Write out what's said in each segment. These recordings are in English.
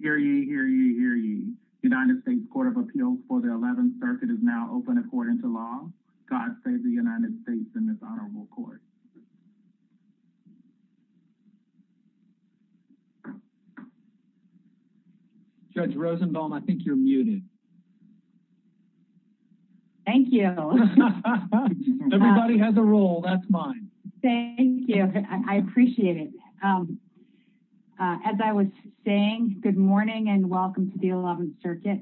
Hear ye, hear ye, hear ye. United States Court of Appeals for the 11th Circuit is now open according to law. God save the United States and this honorable court. Judge Rosenbaum, I think you're muted. Thank you. Everybody has a role, that's Thank you. I appreciate it. As I was saying, good morning and welcome to the 11th Circuit.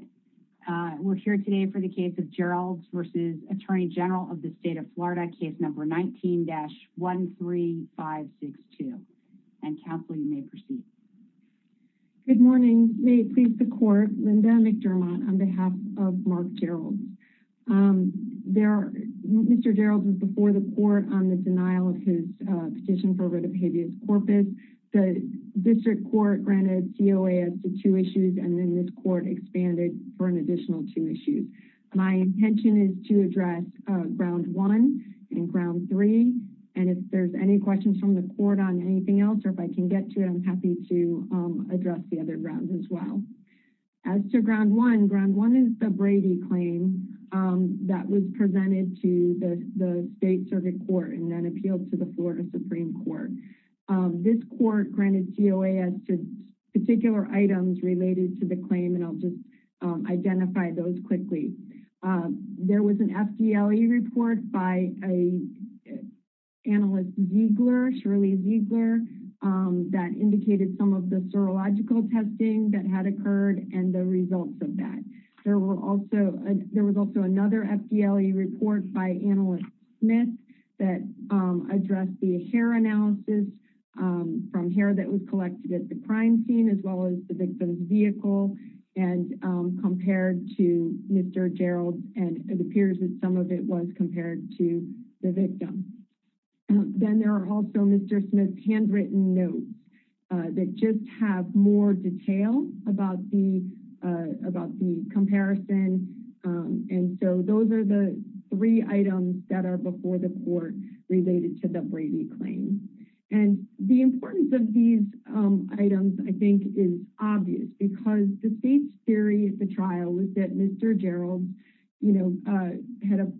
We're here today for the case of Geralds v. Attorney General of the State of Florida, case number 19-13562 and counsel, you may proceed. Good morning. May it please the court, on the denial of his petition for writ of habeas corpus. The district court granted DOA as to two issues and then this court expanded for an additional two issues. My intention is to address ground one and ground three and if there's any questions from the court on anything else or if I can get to it, I'm happy to address the other grounds as well. As to ground one, ground one is the Brady claim that was presented to the state circuit court and then appealed to the Florida Supreme Court. This court granted DOA as to particular items related to the claim and I'll just identify those quickly. There was an FDLE report by an analyst Ziegler, Shirley Ziegler, that indicated some of the serological testing that had occurred and the results of that. There were also, there was also another FDLE report by analyst Smith that addressed the hair analysis from hair that was collected at the crime scene as well as the victim's vehicle and compared to Mr. Gerald and it appears that some of it was compared to the victim. Then there are also Mr. Smith's handwritten notes that just have more detail about the about the comparison and so those are the three items that are before the court related to the Brady claim. The importance of these items, I think, is obvious because the state's theory at the trial was that Mr. Gerald, you know,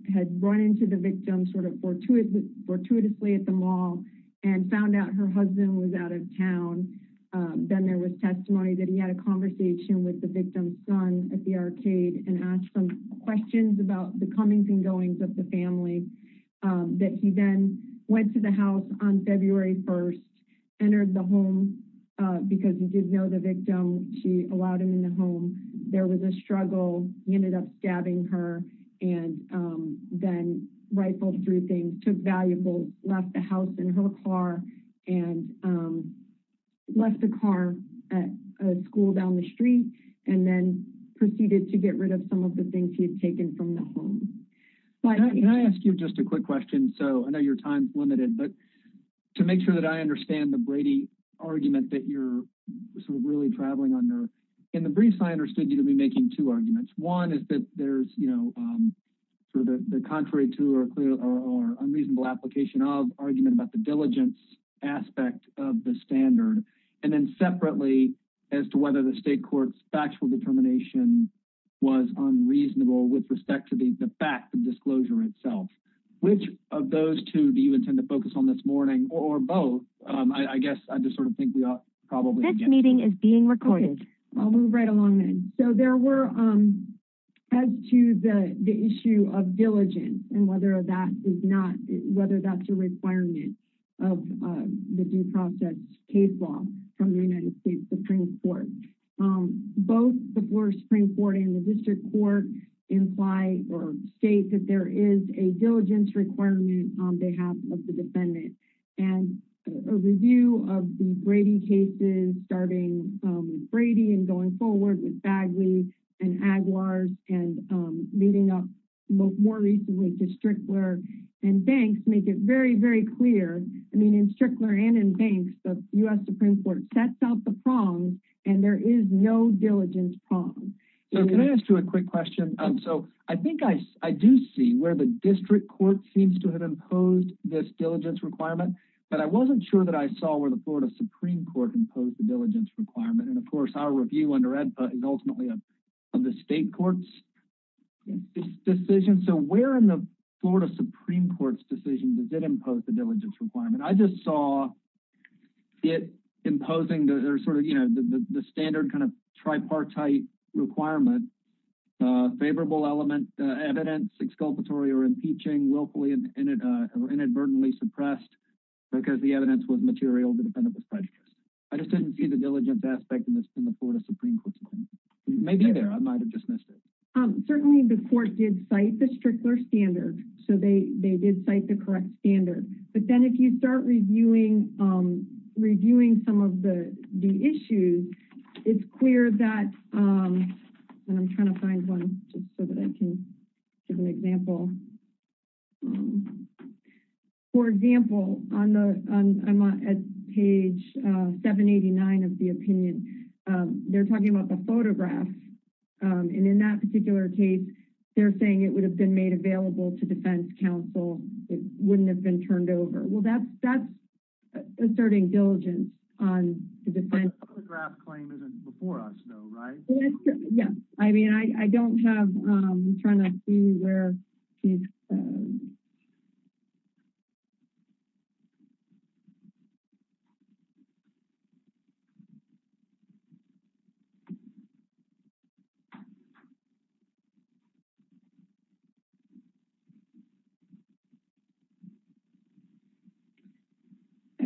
had run into the victim sort of fortuitously at the mall and found out her husband was out of town. Then there was testimony that he had a conversation with the victim's son at the arcade and asked some questions about the comings and goings of the family that he then went to the house on February 1st, entered the home because he did know the victim. She allowed him in the home. There was a struggle. He ended up stabbing her and then rifled through things, took valuables, left the house in her car and left the car at school down the street and then proceeded to get rid of some of the things he had taken from the home. Can I ask you just a quick question? So I know your time is limited but to make sure that I understand the Brady argument that you're sort of really traveling under. In the briefs, I understood you to be making two arguments. One is that there's, you know, sort of the contrary to or a reasonable application of argument about the diligence aspect of the standard and then separately as to whether the state court's factual determination was unreasonable with respect to the fact of disclosure itself. Which of those two do you intend to focus on this morning or both? I guess I just sort of think we ought probably... This meeting is being recorded. I'll move right along then. So there were, as to the issue of diligence and whether that is not, Supreme Court. Both the Supreme Court and the district court imply or state that there is a diligence requirement on behalf of the defendant. And a review of the Brady cases starting Brady and going forward with Bagley and Aguilar and leading up more recently to Strickler and Banks make it very, very clear. I mean in Strickler and in Banks, the US Supreme Court sets out the prongs and there is no diligence prong. So can I ask you a quick question? So I think I do see where the district court seems to have imposed this diligence requirement, but I wasn't sure that I saw where the Florida Supreme Court imposed the diligence requirement. And of course our review under EDPA is ultimately of the state court's decision. So where in the Florida Supreme Court's decision does it impose the diligence requirement? I just saw it imposing the sort of, you know, the standard kind of tripartite requirement, favorable element evidence, exculpatory or impeaching, willfully or inadvertently suppressed because the evidence was material, the defendant was prejudiced. I just didn't see the diligence aspect in the Florida Supreme Court. It may be there. I might have dismissed it. Certainly the court did cite the Strickler standard. So they did cite the correct standard. But then if you start reviewing some of the issues, it's clear that, and I'm trying to find one just so that I can give an example. For example, I'm on page 789 of the opinion. They're talking about the photograph and in that particular case, they're saying it would have been made available to defense counsel. It wouldn't have been turned over. Well, that's asserting diligence on the defense. The photograph claim isn't before us though, right? Yes. I mean, I don't have, I'm trying to see where I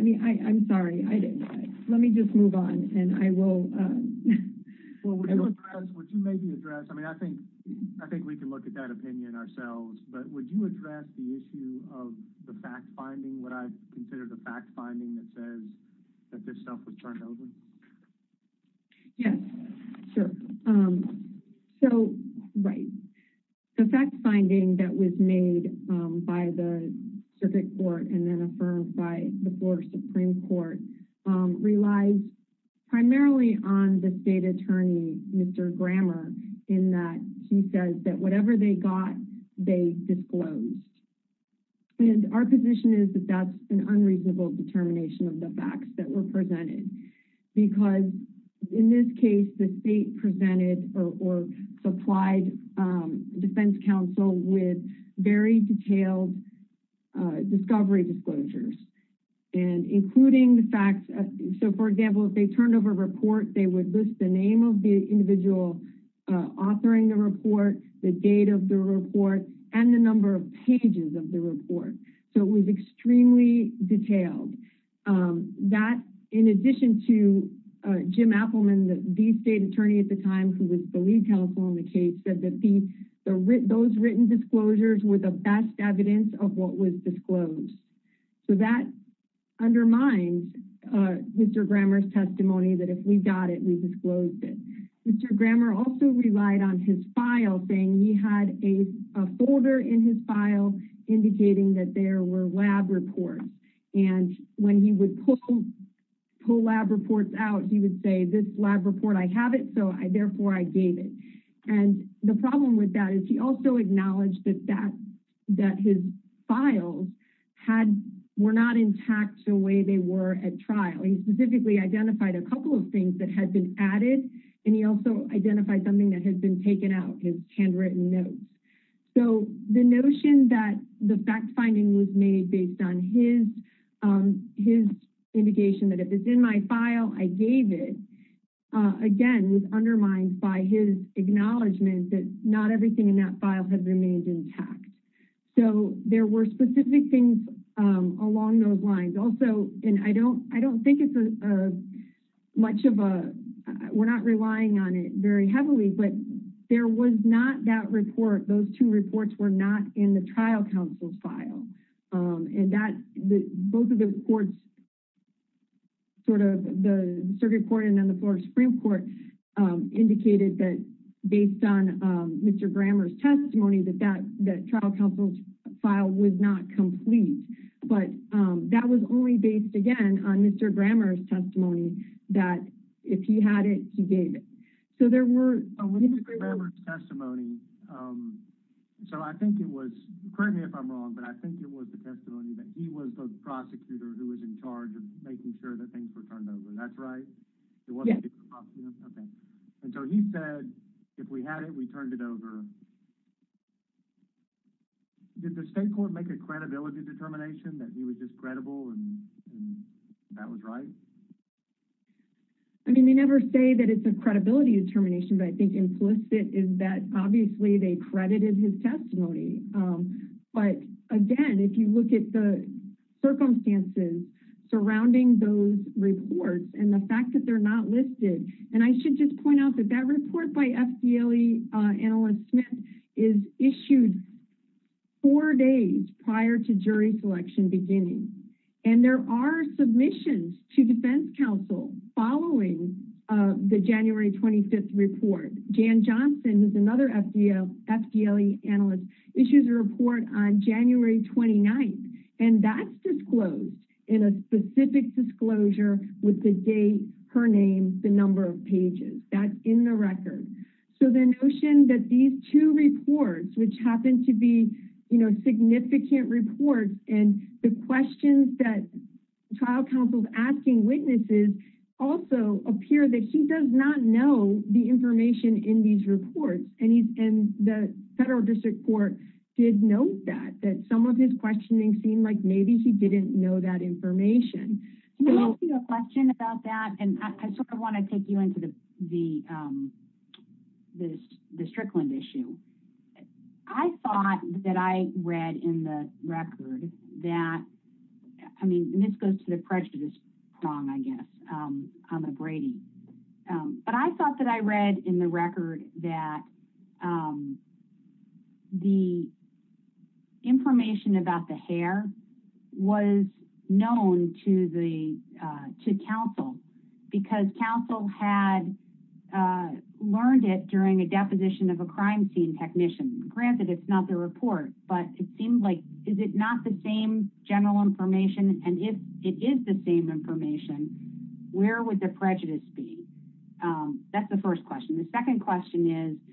mean, I, I'm sorry. I didn't, let me just move on and I will, uh, well, Would you address, would you maybe address, I mean, I think, I think we can look at that opinion ourselves, but would you address the issue of the fact finding what I've considered a fact finding that says that this stuff was turned over? Yes, sure. So, right. The fact finding that was made by the circuit court and then affirmed by the floor Supreme Court, um, relies primarily on the state attorney, Mr. Grammar, in that he says that whatever they got, they disclosed. And our position is that that's an unreasonable determination of the facts that were presented because in this case, the state presented or supplied, um, defense counsel with very detailed, uh, discovery disclosures and including the facts. So for example, if they turned over a report, they would list the name of the individual, uh, authoring the report, the date of the report and the number of pages of the report. So it was extremely detailed, um, that in addition to, uh, Jim Appelman, the state attorney at the time who was the lead counsel on the case said that the, those written disclosures were the best evidence of what was disclosed. So that undermines, uh, Mr. Grammar's testimony that if we got it, we disclosed it. Mr. Grammar also relied on his file thing. He had a folder in his file indicating that there were lab reports. And when he would pull, pull lab reports out, he would say this lab report, I have it. So I, therefore I gave it. And the problem with that is he also acknowledged that that, that his files had, were not intact the way they were at trial. He specifically identified a couple of things that had been added. And he also identified something that had been taken out, his handwritten notes. So the notion that the fact finding was made based on his, um, his indication that if it's in my file, I gave it, uh, again, was undermined by his acknowledgement that not everything in that file had remained intact. So there were specific things, um, along those lines also. And I don't, I don't think it's a, uh, much of a, we're not relying on it very heavily, but there was not that report. Those two reports were not in the trial counsel's file. Um, and that's the, both of the courts, sort of the circuit court and then the Florida Supreme Court, um, indicated that based on, um, Mr. Grammar's testimony that that, that trial counsel's file was not complete, but, um, that was only based again on Mr. Grammar's testimony that if he had it, he gave it. So there were— —Mr. Grammar's testimony, um, so I think it was, correct me if I'm wrong, but I think it was the testimony that he was the prosecutor who was in charge of making sure that things were turned over. That's right? It wasn't the prosecutor? Okay. And so he said, if we had it, we turned it over. Did the state court make a credibility determination that he was discreditable and that was right? I mean, they never say that it's a credibility determination, but I think implicit is that obviously they credited his testimony. Um, but again, if you look at the circumstances surrounding those reports and the fact that they're not listed, and I should just point out that that report by FDLE analyst Smith is issued four days prior to and there are submissions to defense counsel following, uh, the January 25th report. Jan Johnson, who's another FDLE analyst, issues a report on January 29th and that's disclosed in a specific disclosure with the date, her name, the number of pages. That's in the record. So the notion that these two reports, which happened to be, you know, significant reports and the questions that trial counsel's asking witnesses also appear that he does not know the information in these reports. And he's in the federal district court did note that, that some of his questioning seemed like maybe he didn't know that information. Can I ask you a question about that? And I sort of want to take you into the, um, this, the Strickland issue. I thought that I read in the record that, I mean, this goes to the prejudice prong, I guess, um, on the Brady. Um, but I thought that I read in the record that, um, the information about the hair was known to the, uh, to counsel because counsel had, uh, learned it during a deposition of a crime scene technician. Granted it's not the report, but it seemed like, is it not the same general information? And if it is the same information, where would the prejudice be? Um, that's the first question. The second question is,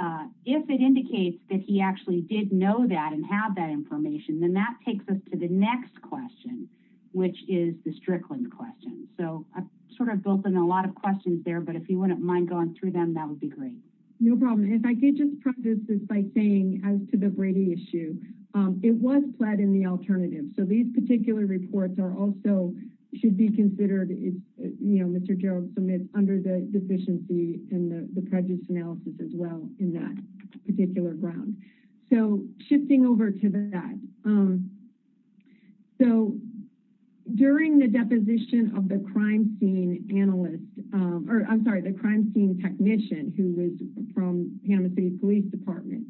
uh, if it indicates that he actually did know that and have that information, then that takes us to the next question, which is the Strickland question. So I've sort of built in a lot of questions there, but if you wouldn't mind going through them, that would be great. No problem. If I could just preface this by saying as to the Brady issue, um, it was pled in the alternative. So these particular reports are also should be considered, you know, Mr. Gerald submit under the deficiency and the prejudice analysis as well in that particular ground. So shifting over to that, um, so during the deposition of the crime scene analyst, um, or I'm sorry, the crime scene technician who was from Panama city police department,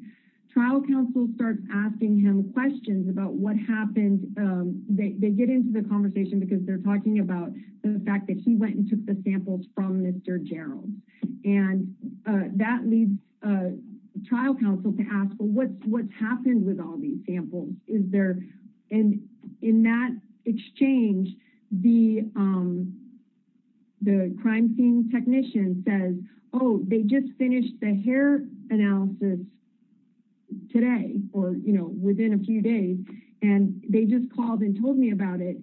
trial counsel starts asking him questions about what happened. Um, they, they get into the conversation because they're talking about the fact that he went and took the samples from Mr. Gerald and, uh, that leads, uh, trial counsel to ask, well, what's, what's happened with all these samples is there. And in that exchange, the, um, the crime scene technician says, oh, they just finished the hair analysis today, or, you know, within a few days and they just called and told me about it.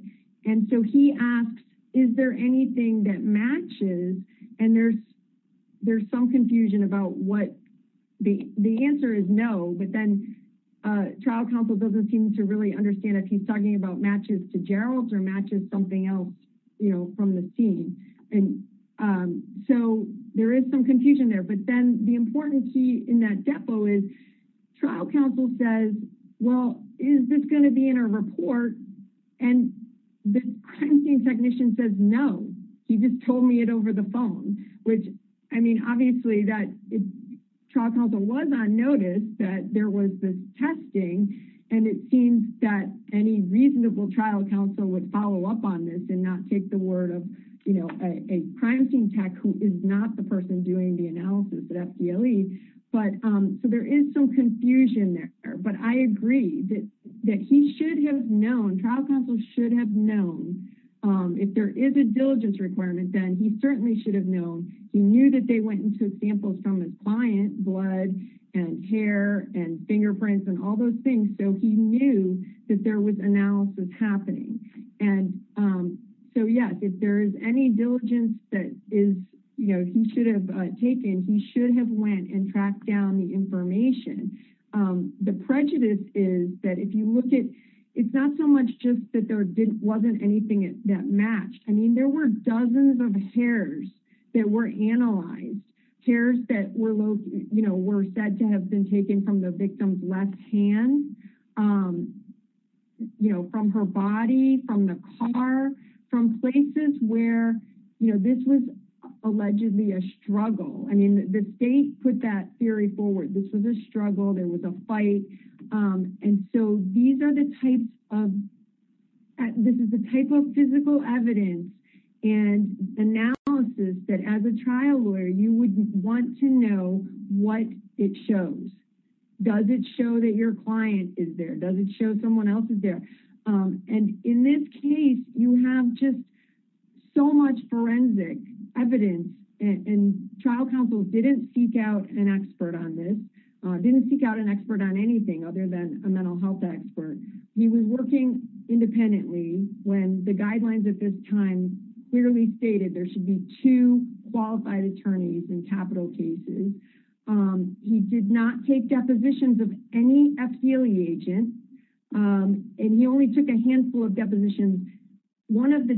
And so he asks, is there anything that matches? And there's, there's some confusion about what the, the answer is no, but then, uh, trial counsel doesn't seem to really understand if he's talking about matches to Gerald's or matches something else, you know, from the scene. And, um, so there is some confusion there, but then the important key in that depo is trial counsel says, well, is this going to be in a report? And the crime scene technician says, no, he just told me it over the phone, which, I mean, obviously that trial counsel was on notice that there was this testing. And it seems that any reasonable trial counsel would follow up on this and not take the word of, you know, a crime scene tech who is not the person doing the analysis at FDLE. But, um, so there is some confusion there, but I agree that, that he should have known, trial counsel should have known, um, if there is a diligence requirement, then he certainly should have known. He knew that they went and took samples from his client, blood and hair and fingerprints and all those things. So he knew that there was analysis happening. And, um, so yes, if there is any diligence that is, you know, he should have taken, he should have went and tracked down the information. Um, the prejudice is that if you look at, it's not so much just that there wasn't anything that matched. I mean, there were dozens of hairs that were analyzed, hairs that were low, you know, were said to have been taken from the victim's left hand, um, you know, from her body, from the car, from places where, you know, this was allegedly a struggle. I mean, the state put that theory forward. This was a struggle. There was a fight. Um, and so these are the types of, this is the type of physical evidence and analysis that as a trial lawyer, you would want to know what it shows. Does it show that your client is there? Does it show someone else is there? Um, and in this case, you have just so much forensic evidence and trial counsel didn't seek out an expert on this, uh, didn't seek out an expert on anything other than a mental health expert. He was working independently when the guidelines at this time clearly stated there should be two qualified attorneys in capital cases. Um, he did not take depositions of any FGLE agent. Um, and he only took a handful of depositions. One of the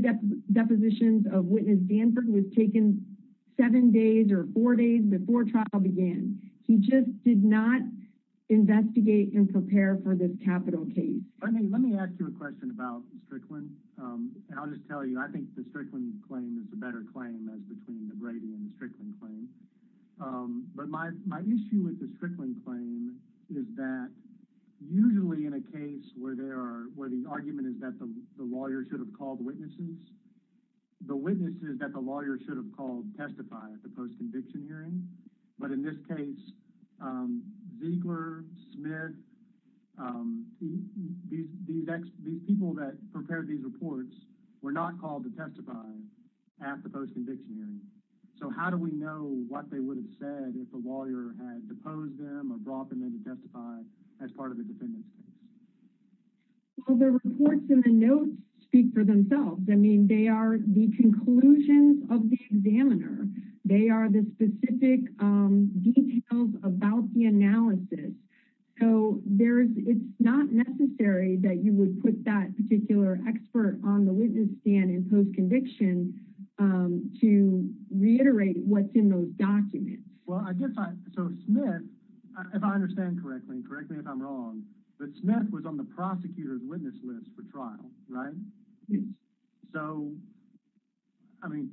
depositions of witness Danford was taken seven days or four days before trial began. He just did not investigate and prepare for this capital case. Let me, let me ask you a question about Strickland. Um, and I'll just tell you, I think the Strickland claim is a better claim as between the Brady and the Strickland claim. Um, but my, my issue with the Strickland claim is that usually in a case where there are, where the argument is that the lawyer should have called witnesses, the witnesses that the lawyer should have called testify at the post-conviction hearing. But in this case, um, Ziegler, Smith, um, these, these, these people that prepared these reports were not called to testify at the post-conviction hearing. So how do we know what they would have said if a lawyer had deposed them or brought them in to testify as part of the defendants? Well, the reports in the notes speak for themselves. I mean, they are the conclusions of the examiner. They are the specific, um, details about the analysis. So there's, it's not necessary that you would put that particular expert on the witness stand in post-conviction, um, to reiterate what's in those documents. Well, I guess I, so Smith, if I understand correctly, correct me if I'm wrong, but Smith was on the prosecutor's witness list for trial, right? Yes. So, I mean,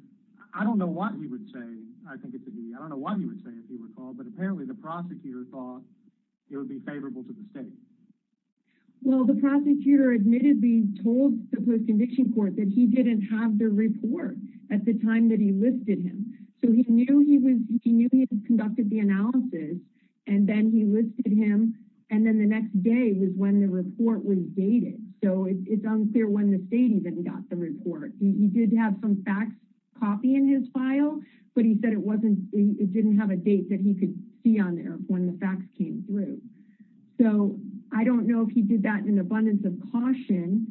I don't know what he would say. I think it could be, I don't know what he would say if he were called, but apparently the prosecutor thought it would be favorable to the state. Well, the prosecutor admittedly told the post-conviction court that he didn't have the report at the time that he listed him. So he knew he was, he knew he had conducted the analysis and then he listed him. And then the next day was when the report was dated. So it's unclear when the state even got the report. He did have some facts copy in his file, but he said it wasn't, it didn't have a date that he could see on there when the facts came through. So I don't know if he did that in abundance of caution.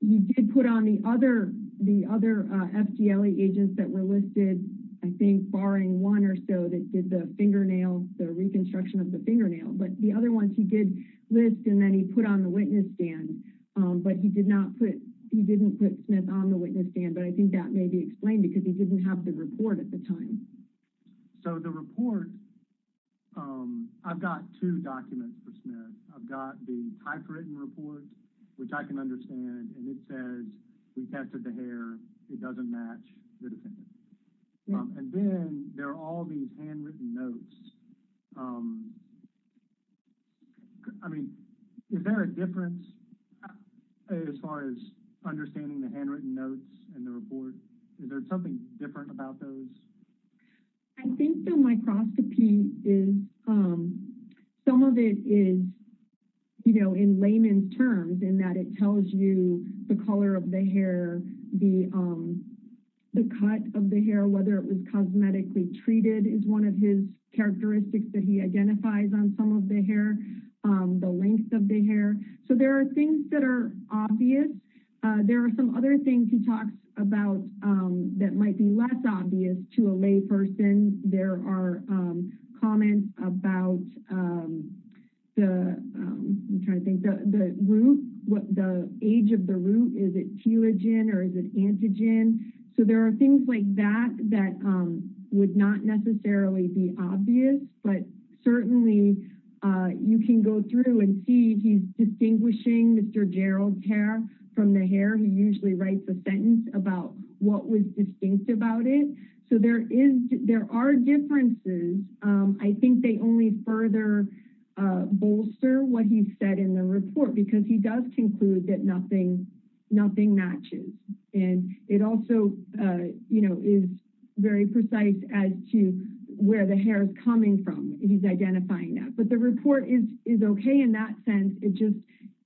He did put on the other, the other, uh, FGLA agents that were listed, I think barring one or so that did the fingernails, the reconstruction of the fingernail, but the other ones he did list and then he put on the witness stand. Um, but he did not put, he didn't put Smith on the witness stand, but I think that may be explained because he didn't have the report at the time. So the report, um, I've got two documents for Smith. I've got the typewritten report, which I can understand. And it says we tested the hair. It doesn't match the defendant. And then there are all these handwritten notes. Um, I mean, is there a difference as far as understanding the handwritten notes and the report? Is there something different about those? I think the microscopy is, um, some of it is, you know, in layman's terms in that it tells you the color of the hair, the, um, the cut of the hair, whether it was cosmetically treated is one of his characteristics that he identifies on some of the hair, um, the length of the hair. So there are things that are obvious. Uh, there are some other things he talks about, um, that might be less obvious to a lay person. There are, um, comments about, um, the, um, I'm trying to think the root, what the age of the root, is it telogen or is it antigen? So there are things like that, that, um, would not necessarily be obvious, but certainly, uh, you can go through and see he's distinguishing Mr. Gerald's hair from the hair. He usually writes a sentence about what was distinct about it. So there is, there are differences. Um, I think they only further, uh, bolster what he said in the report because he does conclude that nothing, nothing matches. And it also, uh, you know, is very precise as to where the hair is coming from. He's identifying that, but the report is, is okay in that sense. It just,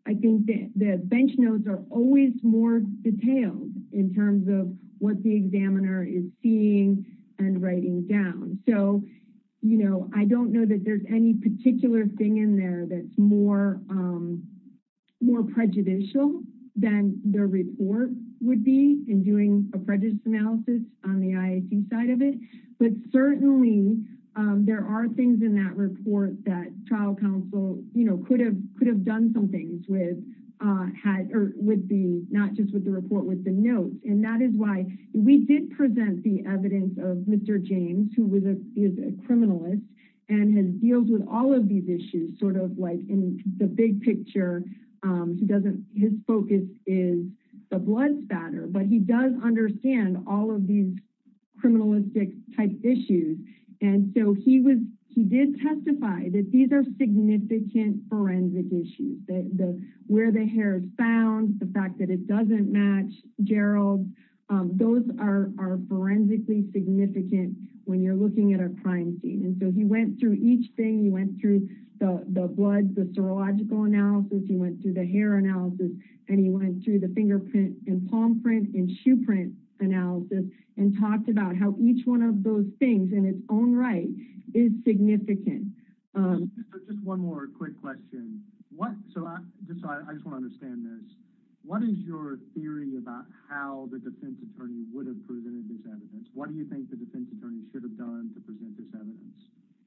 I think that the bench notes are always more detailed in terms of what the examiner is seeing and writing down. So, you know, I don't know that there's any particular thing in there that's more, um, more prejudicial than the report would be in doing a prejudice analysis on the IAC side of it. But certainly, um, there are things in that report that trial counsel, you know, could have, could have done some things with, uh, had, or would be not just with the report with the notes. And that is why we did present the evidence of Mr. James, who was a, is a criminalist and has deals with all of these issues sort of like in the big picture. Um, he doesn't, his focus is the blood spatter, but he does understand all of these criminalistic type issues. And so he was, he did testify that these are significant forensic issues, the, the, where the hair is found, the fact that it doesn't match Gerald, um, those are, are forensically significant when you're looking at a crime scene. And so he went through each thing, he went through the blood, the serological analysis, he went through the hair analysis, and he went through the fingerprint and palm print and shoe print analysis and talked about how each one of those things in its own right is significant. Um, just one more quick question. What, so I just want to understand this, what is your theory about how the defense attorney would have presented this evidence? What do you think the defense attorney should have done to present this evidence?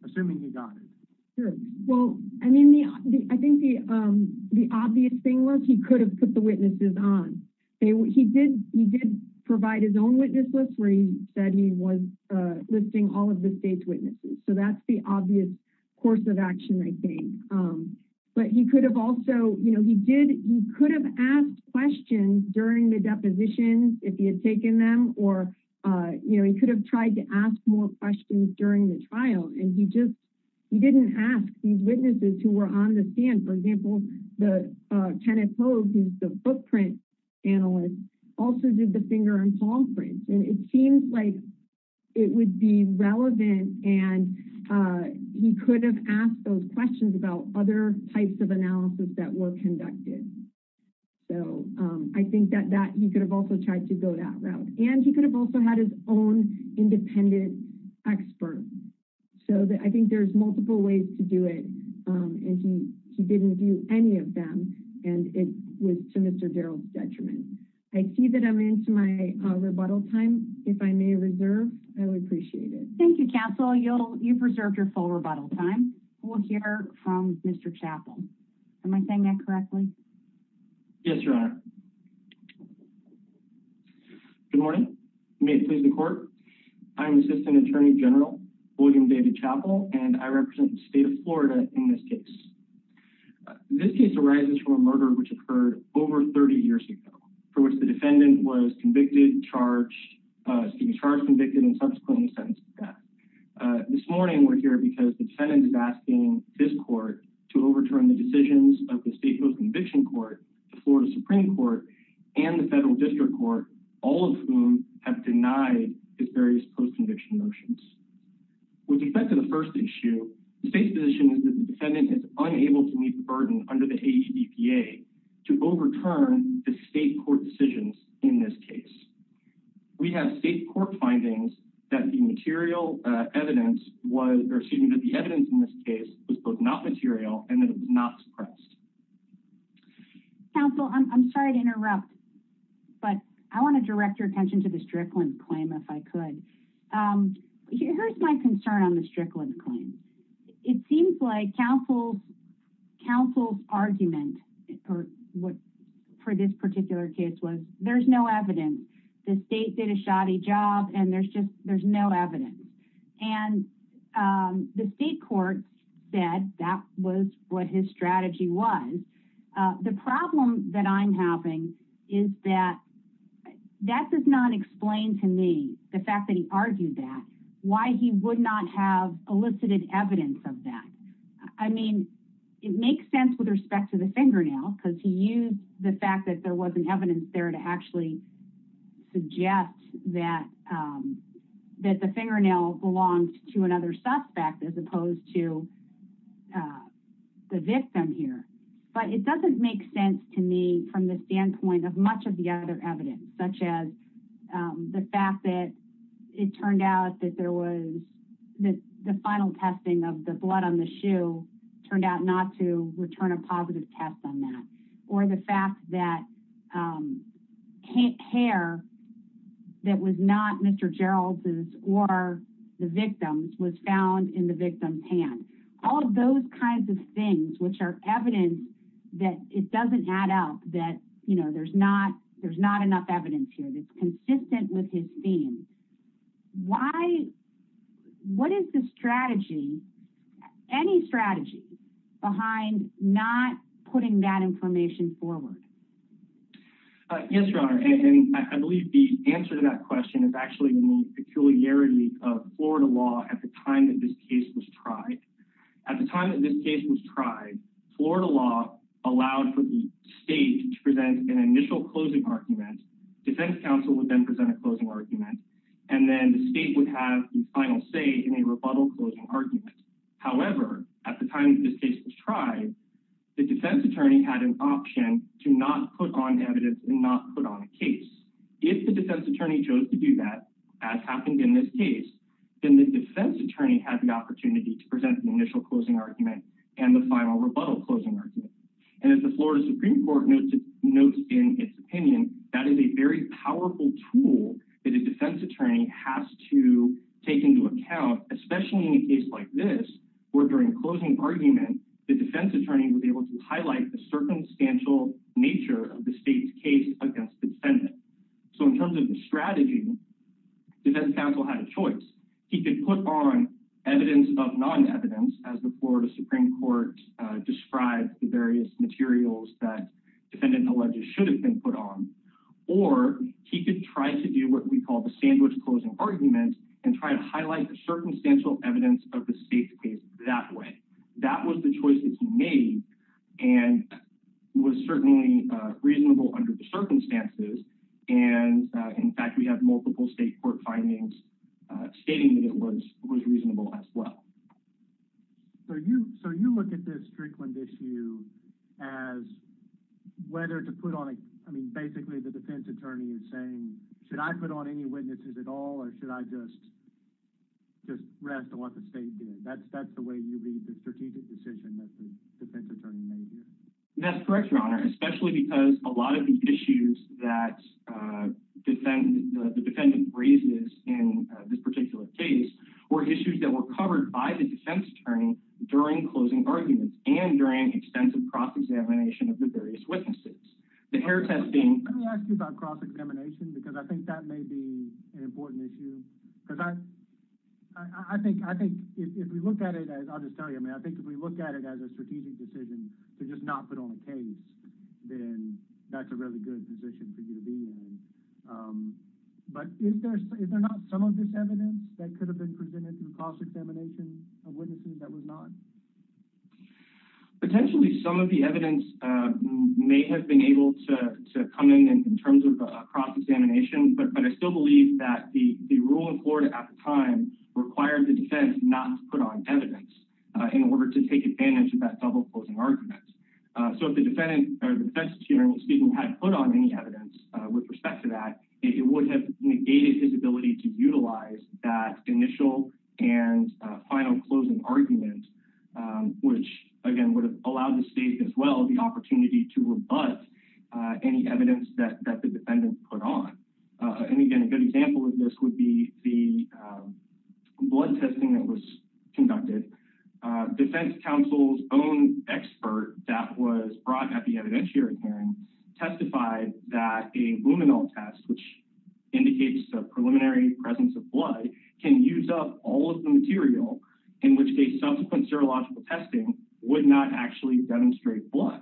Assuming he got it? Sure. Well, I mean, the, I think the, um, the obvious thing was he could have put the witnesses on. He did, he did provide his own witness list where he said he was, uh, listing all of the state's witnesses. So that's the obvious course of action, I think. Um, but he could have also, you know, he did, he could have asked questions during the depositions if he had taken them, or, uh, you know, he could have tried to ask more questions during the trial and he just, he didn't ask these witnesses who were on the stand. For example, the, uh, Kenneth Hogue, who's the footprint analyst, also did the finger and palm prints. And it seems like it would be relevant and, uh, he could have asked those questions about other types of analysis that were conducted. So, um, I think that that, he could have also tried to go that route and he could have also had his own independent expert. So that I think there's multiple ways to do it. Um, and he, he didn't view any of them and it was to Mr. Darrell's detriment. I see that I'm into my, uh, rebuttal time. If I may reserve, I would appreciate it. Thank you, Castle. You'll, you preserved your full rebuttal time. We'll hear from Mr. Chappell. Am I saying that correctly? Yes, Your Honor. Good morning. May it please the court. I'm Assistant Attorney General William David Chappell and I represent the state of Florida in this case. This case arises from a murder which occurred over 30 years ago for which the defendant was convicted, charged, uh, to be charged, convicted, and subsequently sentenced to death. Uh, this morning we're here because the defendant is asking his court to overturn the decisions of the state post-conviction court, the Florida Supreme Court, and the federal district court, all of whom have denied his various post-conviction motions. With respect to the first issue, the state's position is that the defendant is unable to meet the burden under the AEBPA to overturn the state court decisions in this case. We have state court findings that the material, uh, evidence was, or excuse me, that the evidence in this case was both not material and that it was not suppressed. Counsel, I'm sorry to interrupt, but I want to direct your attention to the Strickland claim, if I could. Um, here's my concern on the Strickland claim. It seems like counsel's, counsel's argument, or what, for this particular case was, there's no evidence. The state did a shoddy job and there's just, there's no evidence. And, um, the state court said that was what his the fact that he argued that, why he would not have elicited evidence of that. I mean, it makes sense with respect to the fingernail because he used the fact that there wasn't evidence there to actually suggest that, um, that the fingernail belonged to another suspect as opposed to, uh, the victim here. But it doesn't make sense to me from the standpoint of much of such as, um, the fact that it turned out that there was the final testing of the blood on the shoe turned out not to return a positive test on that, or the fact that, um, can't care that was not Mr. Gerald's or the victim's was found in the victim's hand. All of those kinds of things, which are evidence that it doesn't add up that, you know, there's not, there's not enough evidence here that's consistent with his theme. Why, what is the strategy, any strategy behind not putting that information forward? Uh, yes, your honor. And I believe the answer to that question is actually the peculiarity of Florida law at the time that this case was tried. At the time that this case was tried, Florida law allowed for the state to present an initial closing argument. Defense counsel would then present a closing argument, and then the state would have the final say in a rebuttal closing argument. However, at the time that this case was tried, the defense attorney had an option to not put on evidence and not put on a case. If the defense attorney chose to do that, as happened in this case, then the defense attorney had the and the final rebuttal closing argument. And as the Florida Supreme Court notes in its opinion, that is a very powerful tool that a defense attorney has to take into account, especially in a case like this, where during closing argument, the defense attorney would be able to highlight the circumstantial nature of the state's case against the defendant. So in terms of the strategy, defense counsel had a choice. He could put on evidence of non-evidence as the Florida Supreme Court described the various materials that defendant alleges should have been put on, or he could try to do what we call the sandwich closing argument and try to highlight the circumstantial evidence of the state's case that way. That was the choice that he made and was certainly reasonable under the circumstances. And in fact, we have multiple state court findings stating that it was reasonable as well. So you look at this Strickland issue as whether to put on a, I mean, basically the defense attorney is saying, should I put on any witnesses at all or should I just rest on what the state did? That's the way you lead the strategic decision that the defense attorney may do. That's correct, Your Honor, especially because a lot of these issues that the defendant raises in this particular case were issues that were covered by the defense attorney during closing arguments and during extensive cross-examination of the various witnesses. The hair testing... Let me ask you about cross-examination because I think that may be an important issue because I think if we look at it as, I'll just tell you, I mean, I think if we look at it as a strategic decision to just not put on a case, then that's a really good position for you to be in. But is there not some of this evidence that could have been presented in cross-examination of witnesses that was not? Potentially some of the evidence may have been able to come in in terms of a cross-examination, but I still believe that the rule in Florida at the time required the defense not to put on evidence in order to take advantage of that double closing argument. So if the defense attorney speaking had put on any evidence with respect to that, it would have negated his ability to utilize that initial and final closing argument, which again would have allowed the state as well the opportunity to rebut any evidence that the defendant put on. And again, a good example of this would be the blood testing that was conducted. Defense counsel's own expert that was brought at the evidentiary hearing testified that a luminal test, which indicates a preliminary presence of blood, can use up all of the material in which a subsequent serological testing would not actually demonstrate blood.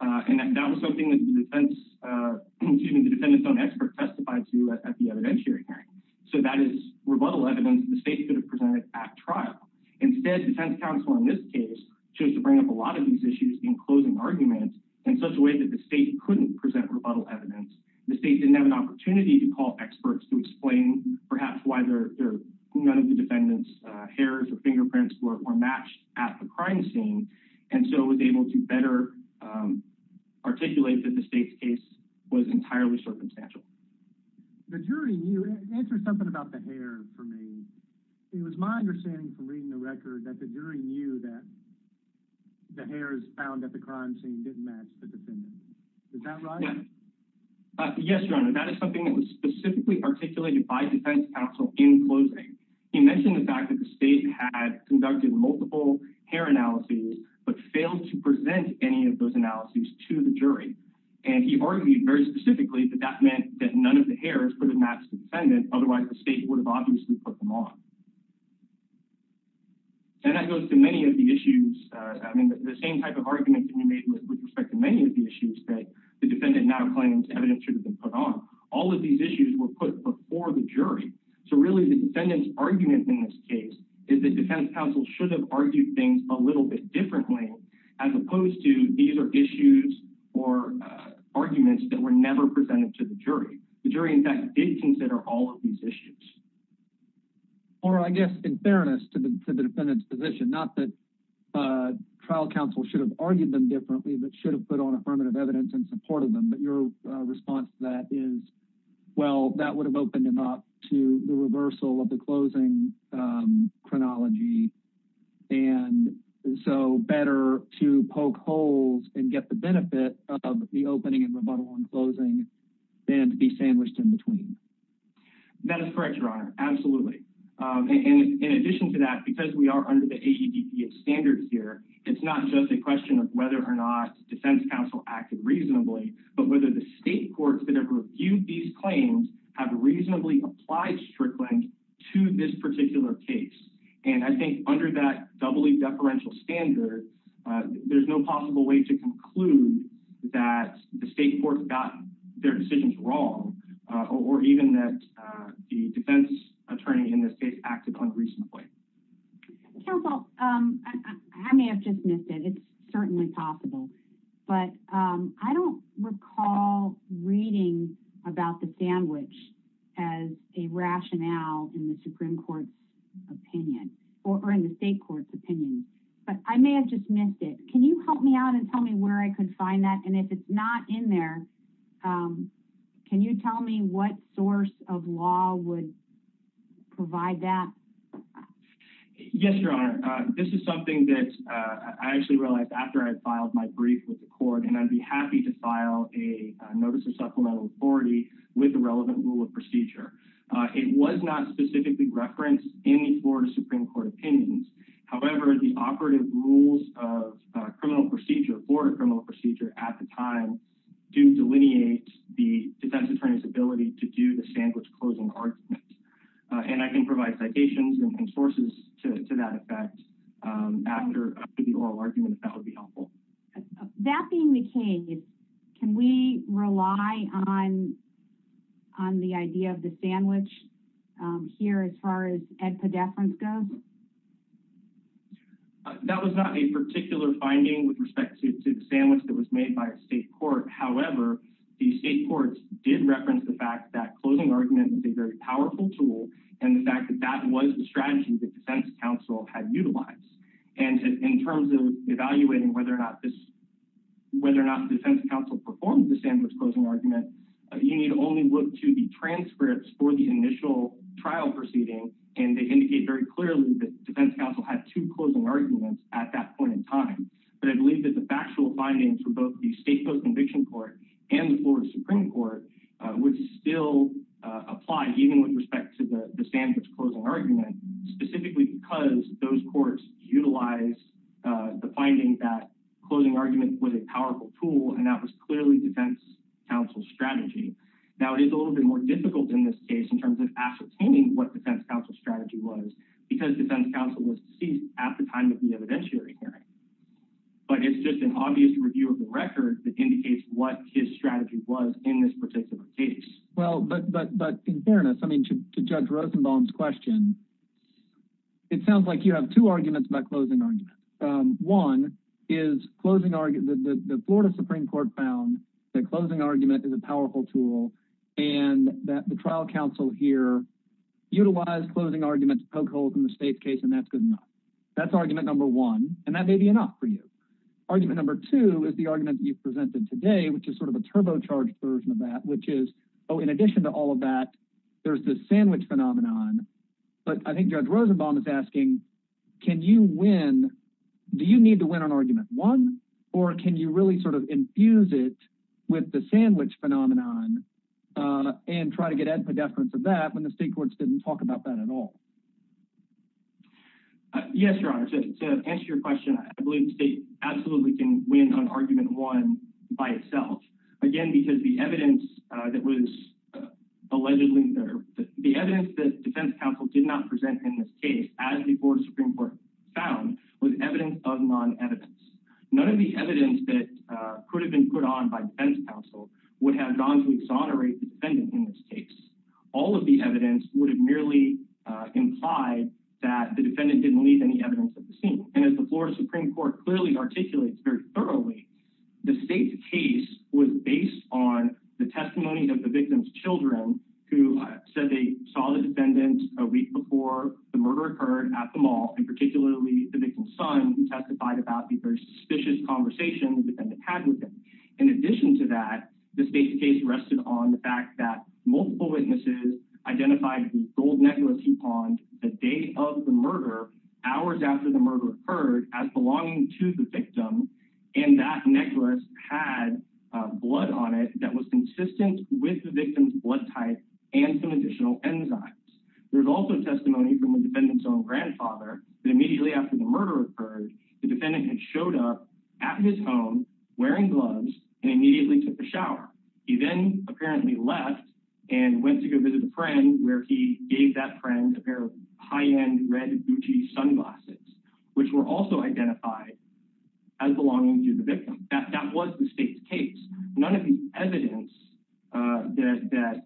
And that was something that the defendant's own expert testified to at the evidentiary hearing. So that is rebuttal evidence the state could have presented at trial. Instead, defense counsel in this case chose to bring up a lot of these issues in closing arguments in such a way that the state couldn't present rebuttal evidence. The state didn't have an opportunity to call experts to explain perhaps why none of the defendant's hairs or fingerprints were matched at the crime scene, and so was able to better articulate that the state's case was entirely circumstantial. The jury knew, answer something about the hair for me. It was my understanding from reading the record that the jury knew that the hairs found at the crime scene didn't match the defendant's. Is that right? Yes, your honor. That is something that was specifically articulated by defense counsel in closing. He mentioned the fact that the state had conducted multiple hair analyses, but failed to present any of those analyses to the jury. And he argued very specifically that that meant that none of the hairs could have matched the defendant. Otherwise, the state would have obviously put them on. And that goes to many of the issues. I mean, the same type of argument can be made with respect to many of the issues that the defendant now claims evidence should have been put on. All of these issues were put before the jury. So really, the defendant's argument in this case is that defense counsel should have argued things a little bit differently, as opposed to these are issues or arguments that were never presented to the jury. The jury, in fact, did consider all of these issues. All right, I guess in fairness to the defendant's position, not that trial counsel should have argued them differently, but should have put on affirmative evidence in support of them. But your response to that is, well, that would have opened him up to the reversal of the case. And so better to poke holes and get the benefit of the opening and rebuttal and closing than to be sandwiched in between. That is correct, Your Honor. Absolutely. And in addition to that, because we are under the AEDPS standards here, it's not just a question of whether or not defense counsel acted reasonably, but whether the state courts that have reviewed these claims have reasonably applied Strickland to this particular case. And I think under that doubly deferential standard, there's no possible way to conclude that the state courts got their decisions wrong or even that the defense attorney in this case acted unreasonably. Counsel, I may have just missed it. It's certainly possible. But I don't recall reading about the sandwich as a rationale in the Supreme Court's opinion or in the state court's opinion, but I may have just missed it. Can you help me out and tell me where I could find that? And if it's not in there, can you tell me what source of law would provide that? Yes, Your Honor. This is something that I actually realized after I filed my brief with the court, and I'd be happy to file a notice of supplemental authority with the relevant rule of procedure. It was not specifically referenced in the Florida Supreme Court opinions. However, the operative rules of criminal procedure for criminal procedure at the time do delineate the defense attorney's ability to do the sandwich closing argument. And I can provide citations and sources to that effect after the oral argument, that would be helpful. That being the case, can we rely on the idea of the sandwich here as far as edpedeference goes? That was not a particular finding with respect to the sandwich that was made by a state court. However, the state courts did reference the fact that closing argument is a very powerful tool, and the fact that that was the strategy the defense counsel had utilized. And in terms of evaluating whether or not the defense counsel performed the sandwich closing argument, you need only look to the transcripts for the initial trial proceeding, and they indicate very clearly that the defense counsel had two closing arguments at that point in time. But I believe that the factual findings for both the state post-conviction court and the Florida Supreme Court would still apply, even with respect to the sandwich closing argument, specifically because those courts utilized the finding that closing argument was a powerful tool, and that was clearly defense counsel's strategy. Now, it is a little bit more difficult in this case in terms of ascertaining what defense counsel's strategy was, because defense counsel was deceased at the time of the evidentiary hearing. But it's just an obvious review of the record that indicates what his strategy was in this particular case. Well, but in fairness, to Judge Rosenbaum's question, it sounds like you have two arguments about closing argument. One is the Florida Supreme Court found that closing argument is a powerful tool, and that the trial counsel here utilized closing arguments to poke holes in the state's case, and that's good enough. That's argument number one, and that may be enough for you. Argument number two is the argument you've presented today, which is sort of a turbocharged version of that, which is, oh, in addition to all of that, there's the sandwich phenomenon. But I think Judge Rosenbaum is asking, can you win—do you need to win on argument one, or can you really sort of infuse it with the sandwich phenomenon and try to get ad podefinence of that when the state courts didn't talk about that at all? Yes, Your Honor. To answer your question, I believe the state absolutely can win on argument one by itself, again, because the evidence that was allegedly there—the evidence that defense counsel did not present in this case, as the Florida Supreme Court found, was evidence of non-evidence. None of the evidence that could have been put on by defense counsel would have gone to exonerate the defendant in this case. All of the evidence would have merely implied that the defendant didn't leave any evidence at the scene. And as the Florida Supreme Court clearly articulates very thoroughly, the state's case was based on the testimony of the victim's children, who said they saw the defendant a week before the murder occurred at the mall, and particularly the victim's son, who testified about the very suspicious conversation the defendant had with him. In addition to that, the state's case rested on the fact that multiple witnesses identified the gold nebulas he pawned the day of the murder, hours after the murder occurred, as belonging to the victim, and that necklace had blood on it that was consistent with the victim's blood type and some additional enzymes. There's also testimony from the defendant's own grandfather that immediately after the murder occurred, the defendant had showed up at his home wearing gloves and immediately took a shower. He then apparently left and went to go visit a friend, where he gave that friend a pair of high-end red Gucci sunglasses, which were also identified as belonging to the victim. That was the state's case. None of the evidence that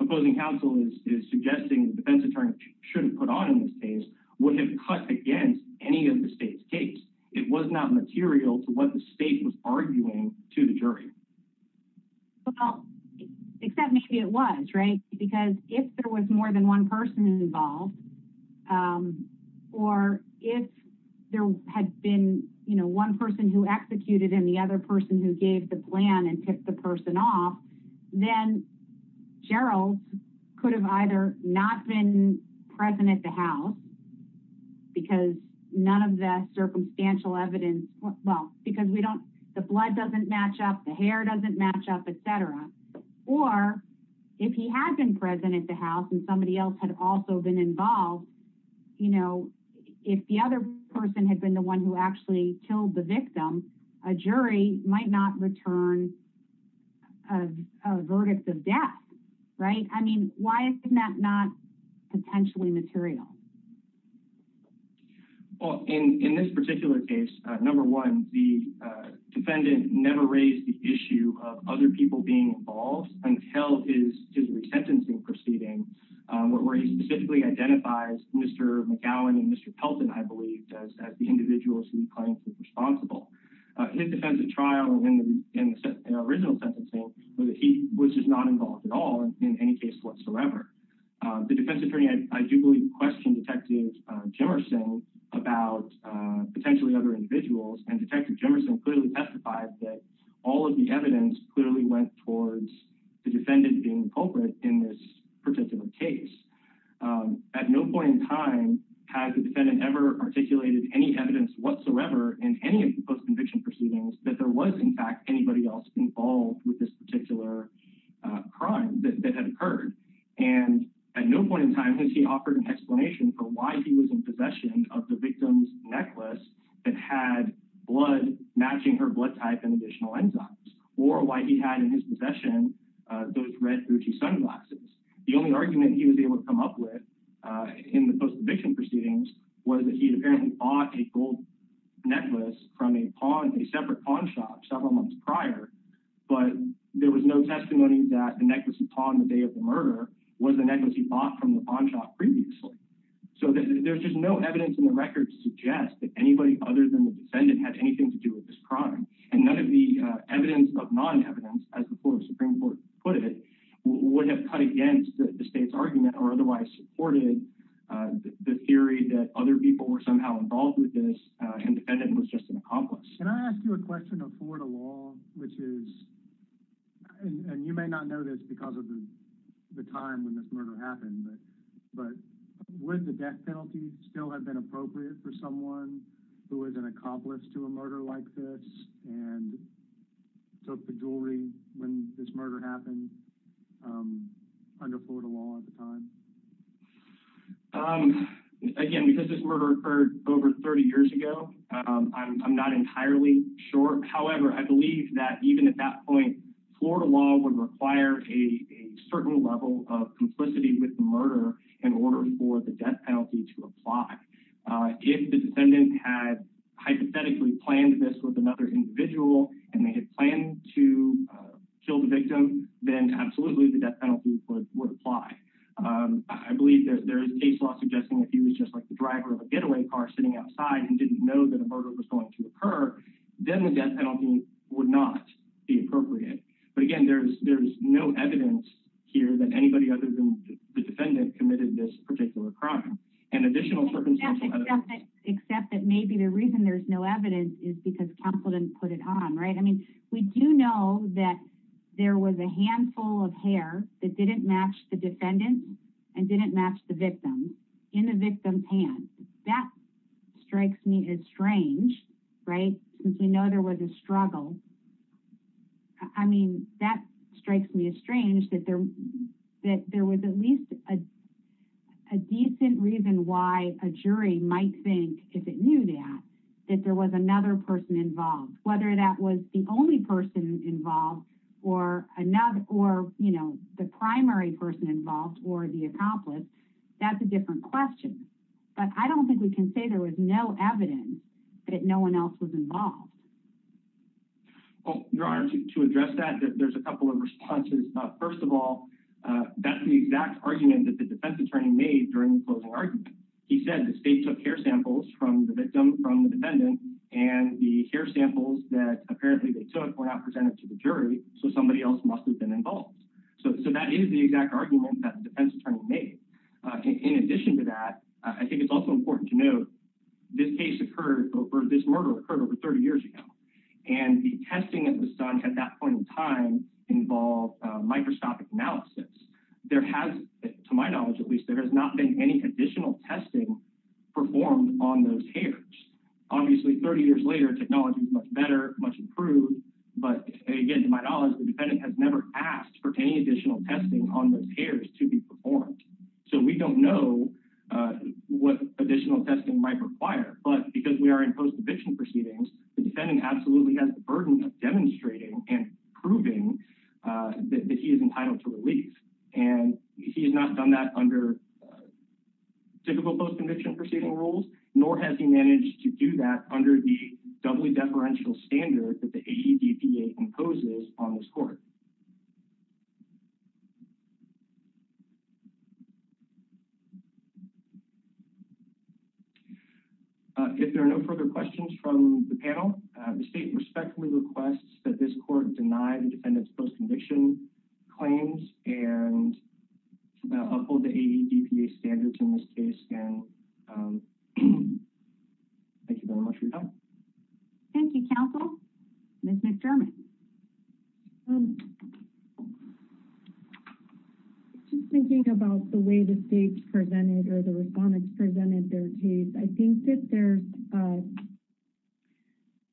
opposing counsel is suggesting the defense attorney should have put on in this case would have cut against any of the state's case. It was not material to what the state was arguing to the jury. Well, except maybe it was, right? Because if there was more than one person involved, or if there had been, you know, one person who executed and the other person who gave the plan and picked the person off, then Gerald could have either not been present at the house, because none of that circumstantial evidence, well, because we don't, the blood doesn't match up, the hair doesn't match up, etc. Or if he had been present at the house and somebody else had also been involved, you know, if the other person had been the one who actually killed the victim, a jury might not return a verdict of death, right? I mean, why isn't that not potentially material? Well, in this particular case, number one, the defendant never raised the issue of other people being involved until his re-sentencing proceeding, where he specifically identifies Mr. McGowan and Mr. Pelton, I believe, as the individuals who he claims is responsible. His defense of trial and original sentencing, he was just not involved at all in any case whatsoever. The defense attorney, I do believe, questioned Detective Jimerson about potentially other individuals, and Detective Jimerson clearly testified that all of the evidence clearly went towards the defendant being the culprit in this particular case. At no point in time has the defendant ever articulated any evidence whatsoever in any of the post-conviction proceedings that there was, in fact, anybody else involved with this particular crime that had occurred, and at no point in time has he offered an explanation for why he was in possession of the victim's necklace that had blood matching her blood type and additional enzymes, or why he had in his possession those red Gucci sunglasses. The only argument he was able to come up with in the post-conviction proceedings was that he but there was no testimony that the necklace he pawned the day of the murder was the necklace he bought from the pawn shop previously. So there's just no evidence in the record to suggest that anybody other than the defendant had anything to do with this crime, and none of the evidence of non-evidence, as the Florida Supreme Court put it, would have cut against the state's argument or otherwise supported the theory that other people were somehow involved with this and the defendant was just an accomplice. Can I ask you a question of this, and you may not know this because of the time when this murder happened, but would the death penalty still have been appropriate for someone who was an accomplice to a murder like this and took the jewelry when this murder happened under Florida law at the time? Again, because this murder occurred over 30 years ago, I'm not entirely sure. However, I believe that even at that point, Florida law would require a certain level of complicity with the murder in order for the death penalty to apply. If the defendant had hypothetically planned this with another individual, and they had planned to kill the victim, then absolutely the death penalty would apply. I believe there's case law suggesting that he was just like the driver of a getaway car sitting outside and didn't know that a murder was going to occur. Then the death penalty would not be appropriate. But again, there's no evidence here that anybody other than the defendant committed this particular crime, and additional circumstances. Except that maybe the reason there's no evidence is because counsel didn't put it on, right? I mean, we do know that there was a handful of hair that didn't match the defendant and didn't match the since we know there was a struggle. I mean, that strikes me as strange that there was at least a decent reason why a jury might think, if it knew that, that there was another person involved. Whether that was the only person involved or the primary person involved or the accomplice, that's a different question. But I don't think we can say there was no evidence that no one else was involved. Well, Your Honor, to address that, there's a couple of responses. First of all, that's the exact argument that the defense attorney made during the closing argument. He said the state took hair samples from the victim, from the defendant, and the hair samples that apparently they took were not presented to the jury, so somebody else must have been involved. So that is the exact argument that the defense attorney made. In addition to that, I think it's also important to note this case occurred, or this murder occurred over 30 years ago, and the testing that was done at that point in time involved microscopic analysis. There has, to my knowledge at least, there has not been any additional testing performed on those hairs. Obviously, 30 years later, technology is much better, much improved, but again, to my knowledge, the defendant has never asked for any additional testing on those hairs to be performed. So we don't know what additional testing might require, but because we are in post-eviction proceedings, the defendant absolutely has the burden of demonstrating and proving that he is entitled to relief. And he has not done that under typical post-eviction proceeding rules, nor has he managed to do that under the doubly deferential standard that the AEDPA imposes on this court. If there are no further questions from the panel, the state respectfully requests that this court deny the defendant's post-eviction claims and uphold the AEDPA standards in this case, and thank you very much for your time. Thank you, counsel. Ms. McDermott. Just thinking about the way the states presented or the respondents presented their case, I think that there's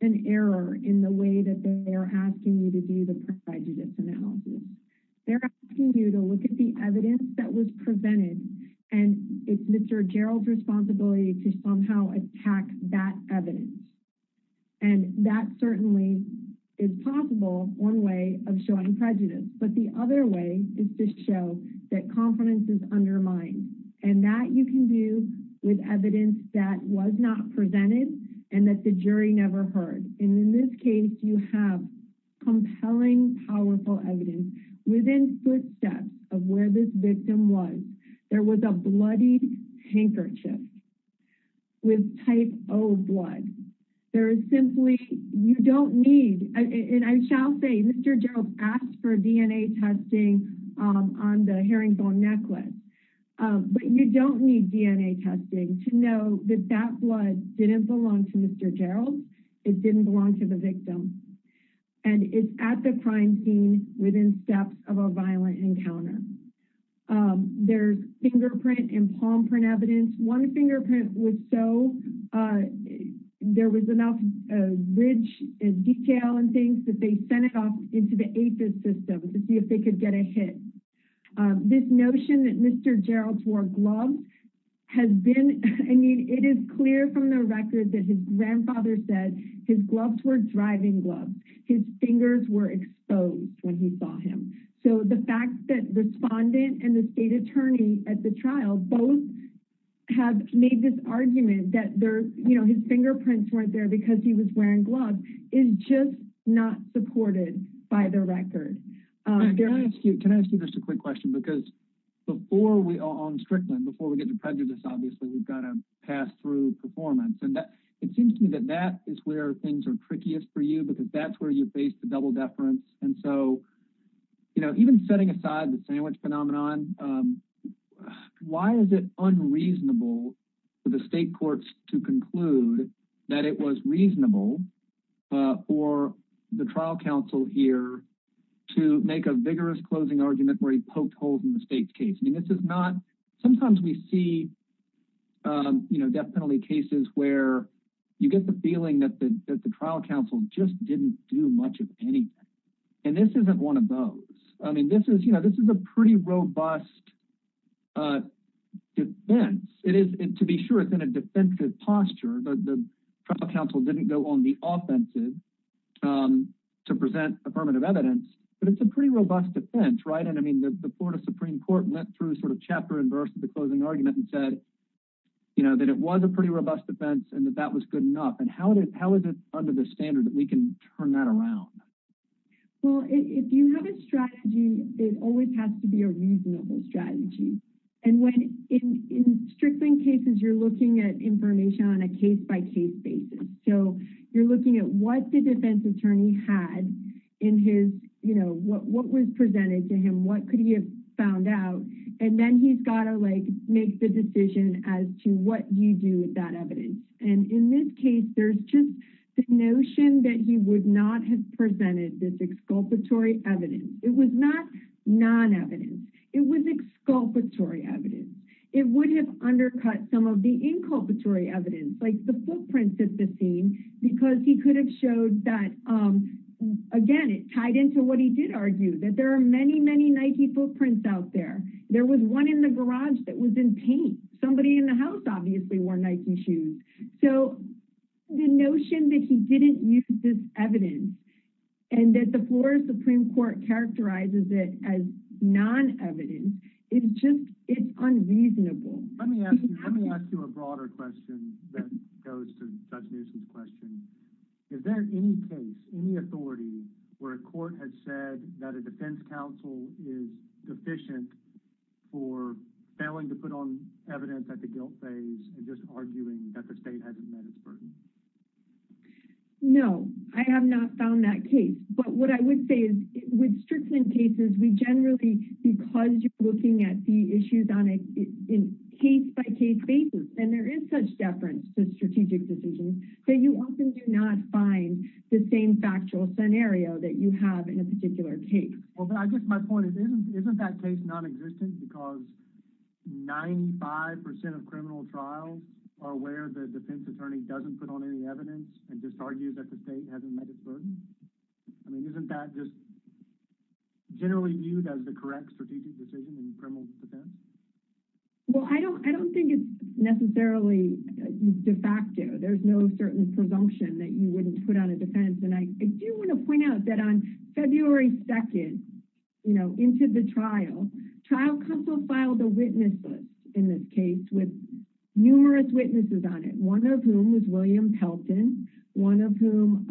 an error in the way that they are asking you to do the prejudice analysis. They're asking you to look at the evidence that was presented, and it's Mr. Jarrell's responsibility to somehow attack that evidence, and that certainly is possible one way of showing prejudice, but the other way is to show that confidence is undermined, and that you can do with evidence that was not within footsteps of where this victim was. There was a bloodied handkerchief with type O blood. There is simply, you don't need, and I shall say, Mr. Jarrell asked for DNA testing on the herringbone necklace, but you don't need DNA testing to know that that blood didn't belong to Mr. Jarrell. It didn't belong to the victim, and it's at the crime scene within steps of a violent encounter. There's fingerprint and palm print evidence. One fingerprint was so there was enough rich detail and things that they sent it off into the APHIS system to see if they could get a hit. This notion that Mr. Jarrell wore gloves has been, I mean, it is clear from the record that his grandfather said his gloves were driving gloves. His fingers were exposed when he saw him, so the fact that the respondent and the state attorney at the trial both have made this argument that there's, you know, his fingerprints weren't there because he was wearing gloves is just not supported by the record. Can I ask you just a quick question, because before we are on Strickland, before we get to prejudice, obviously, we've got to pass through performance, and it seems to me that that is where things are trickiest for you, because that's where you face the double deference, and so, you know, even setting aside the sandwich phenomenon, why is it unreasonable for the state courts to conclude that it was reasonable for the trial counsel here to make a vigorous closing argument where he poked holes in the death penalty cases where you get the feeling that the trial counsel just didn't do much of anything, and this isn't one of those. I mean, this is, you know, this is a pretty robust defense. It is, to be sure, it's in a defensive posture. The trial counsel didn't go on the offensive to present affirmative evidence, but it's a pretty robust defense, right? And I mean, the Florida Supreme Court went through sort of chapter and verse of the closing argument and said, you know, that it was a pretty robust defense and that that was good enough, and how is it under the standard that we can turn that around? Well, if you have a strategy, it always has to be a reasonable strategy, and when in Strickland cases, you're looking at information on a case-by-case basis, so you're looking at what the defense attorney had in his, you know, what was presented to him, what could found out, and then he's got to, like, make the decision as to what you do with that evidence, and in this case, there's just the notion that he would not have presented this exculpatory evidence. It was not non-evidence. It was exculpatory evidence. It would have undercut some of the inculpatory evidence, like the footprints at the scene, because he could have showed that, again, it tied into what he did argue, that there are many, many Nike footprints out there. There was one in the garage that was in paint. Somebody in the house obviously wore Nike shoes. So the notion that he didn't use this evidence and that the Florida Supreme Court characterizes it as non-evidence is just, it's unreasonable. Let me ask you a broader question that goes to Judge Newsome's question. Is there any case, any authority, where a court has said that a defense counsel is deficient for failing to put on evidence at the guilt phase and just arguing that the state hasn't met its burden? No, I have not found that case, but what I would say is with Strickland cases, we generally, because you're looking at the issues on a case-by-case basis, and there is such deference to strategic decisions, that you often do not find the same factual scenario that you have in a particular case. Well, but I guess my point is, isn't that case non-existent because 95 percent of criminal trials are where the defense attorney doesn't put on any evidence and just argues that the state hasn't met its burden? I mean, isn't that just generally viewed as the correct strategic decision in criminal defense? Well, I don't think it's necessarily de facto. There's no certain presumption that you wouldn't put on a defense, and I do want to point out that on February 2nd, you know, into the trial, trial counsel filed the witnesses in this case with numerous witnesses on it, one of whom was William Pelton, one of whom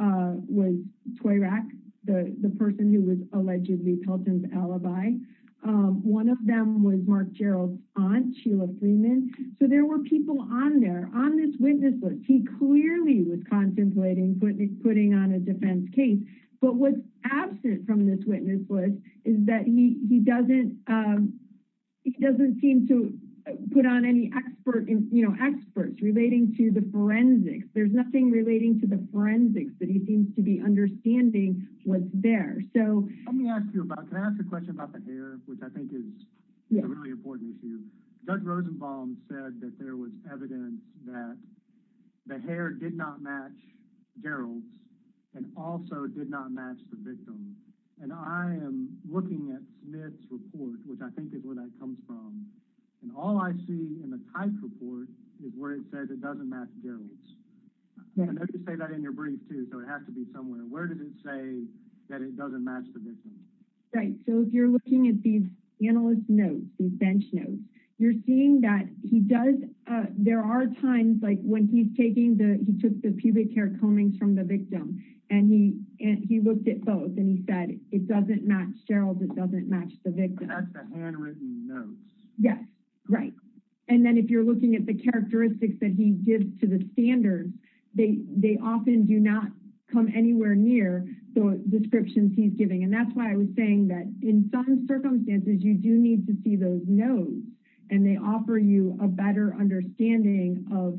was Toyrak, the person who was one of them was Mark Gerald's aunt, Sheila Freeman, so there were people on there on this witness list. He clearly was contemplating putting on a defense case, but what's absent from this witness list is that he doesn't seem to put on any expert, you know, experts relating to the forensics. There's nothing relating to the forensics that he seems to be understanding was there. So let me ask you about, can I ask a question about the hair, which I think is a really important issue. Judge Rosenbaum said that there was evidence that the hair did not match Gerald's and also did not match the victim's, and I am looking at Smith's report, which I think is where that comes from, and all I see in the Tice report is where it says it doesn't match Gerald's. I know you say that in your brief too, so it has to be somewhere. Where did it say that it doesn't match the victim? Right, so if you're looking at these analyst notes, these bench notes, you're seeing that he does, there are times like when he's taking the, he took the pubic hair comings from the victim and he looked at both and he said it doesn't match Gerald's, it doesn't match the victim. That's the handwritten notes. Yes, right, and then if you're looking at the standards, they often do not come anywhere near the descriptions he's giving, and that's why I was saying that in some circumstances you do need to see those notes and they offer you a better understanding of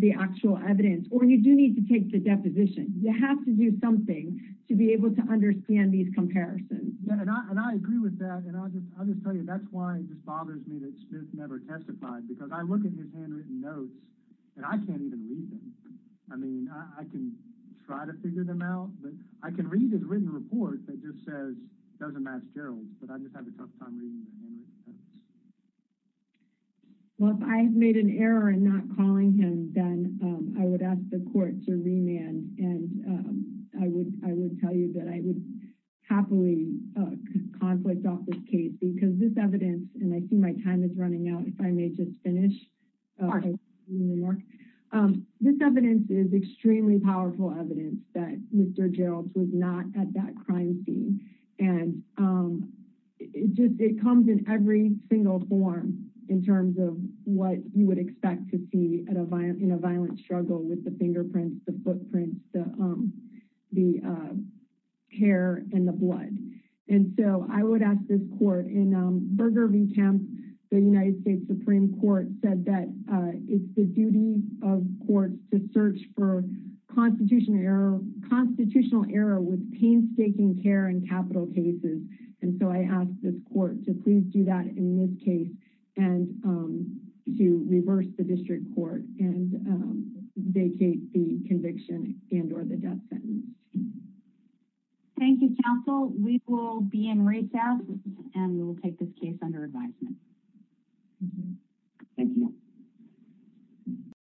the actual evidence, or you do need to take the deposition. You have to do something to be able to understand these comparisons. Yeah, and I agree with that, and I'll just tell you that's why it just bothers me that Smith never testified because I look at his handwritten notes and I can't even read them. I mean, I can try to figure them out, but I can read his written report that just says it doesn't match Gerald's, but I just have a tough time reading the handwritten notes. Well, if I have made an error in not calling him, then I would ask the court to remand, and I would tell you that I would happily conflict off this case because this evidence, and I see my time is running out, if I may just finish. Okay. This evidence is extremely powerful evidence that Mr. Gerald was not at that crime scene, and it comes in every single form in terms of what you would expect to see in a violent struggle with the fingerprints, the footprints, the hair, and the blood, and so I would ask this court in Burger v. Kemp's, the United States Supreme Court said that it's the duty of courts to search for constitutional error with painstaking care in capital cases, and so I ask this court to please do that in this case and to reverse the and or the death sentence. Thank you, counsel. We will be in recess, and we will take this case under advisement. Thank you.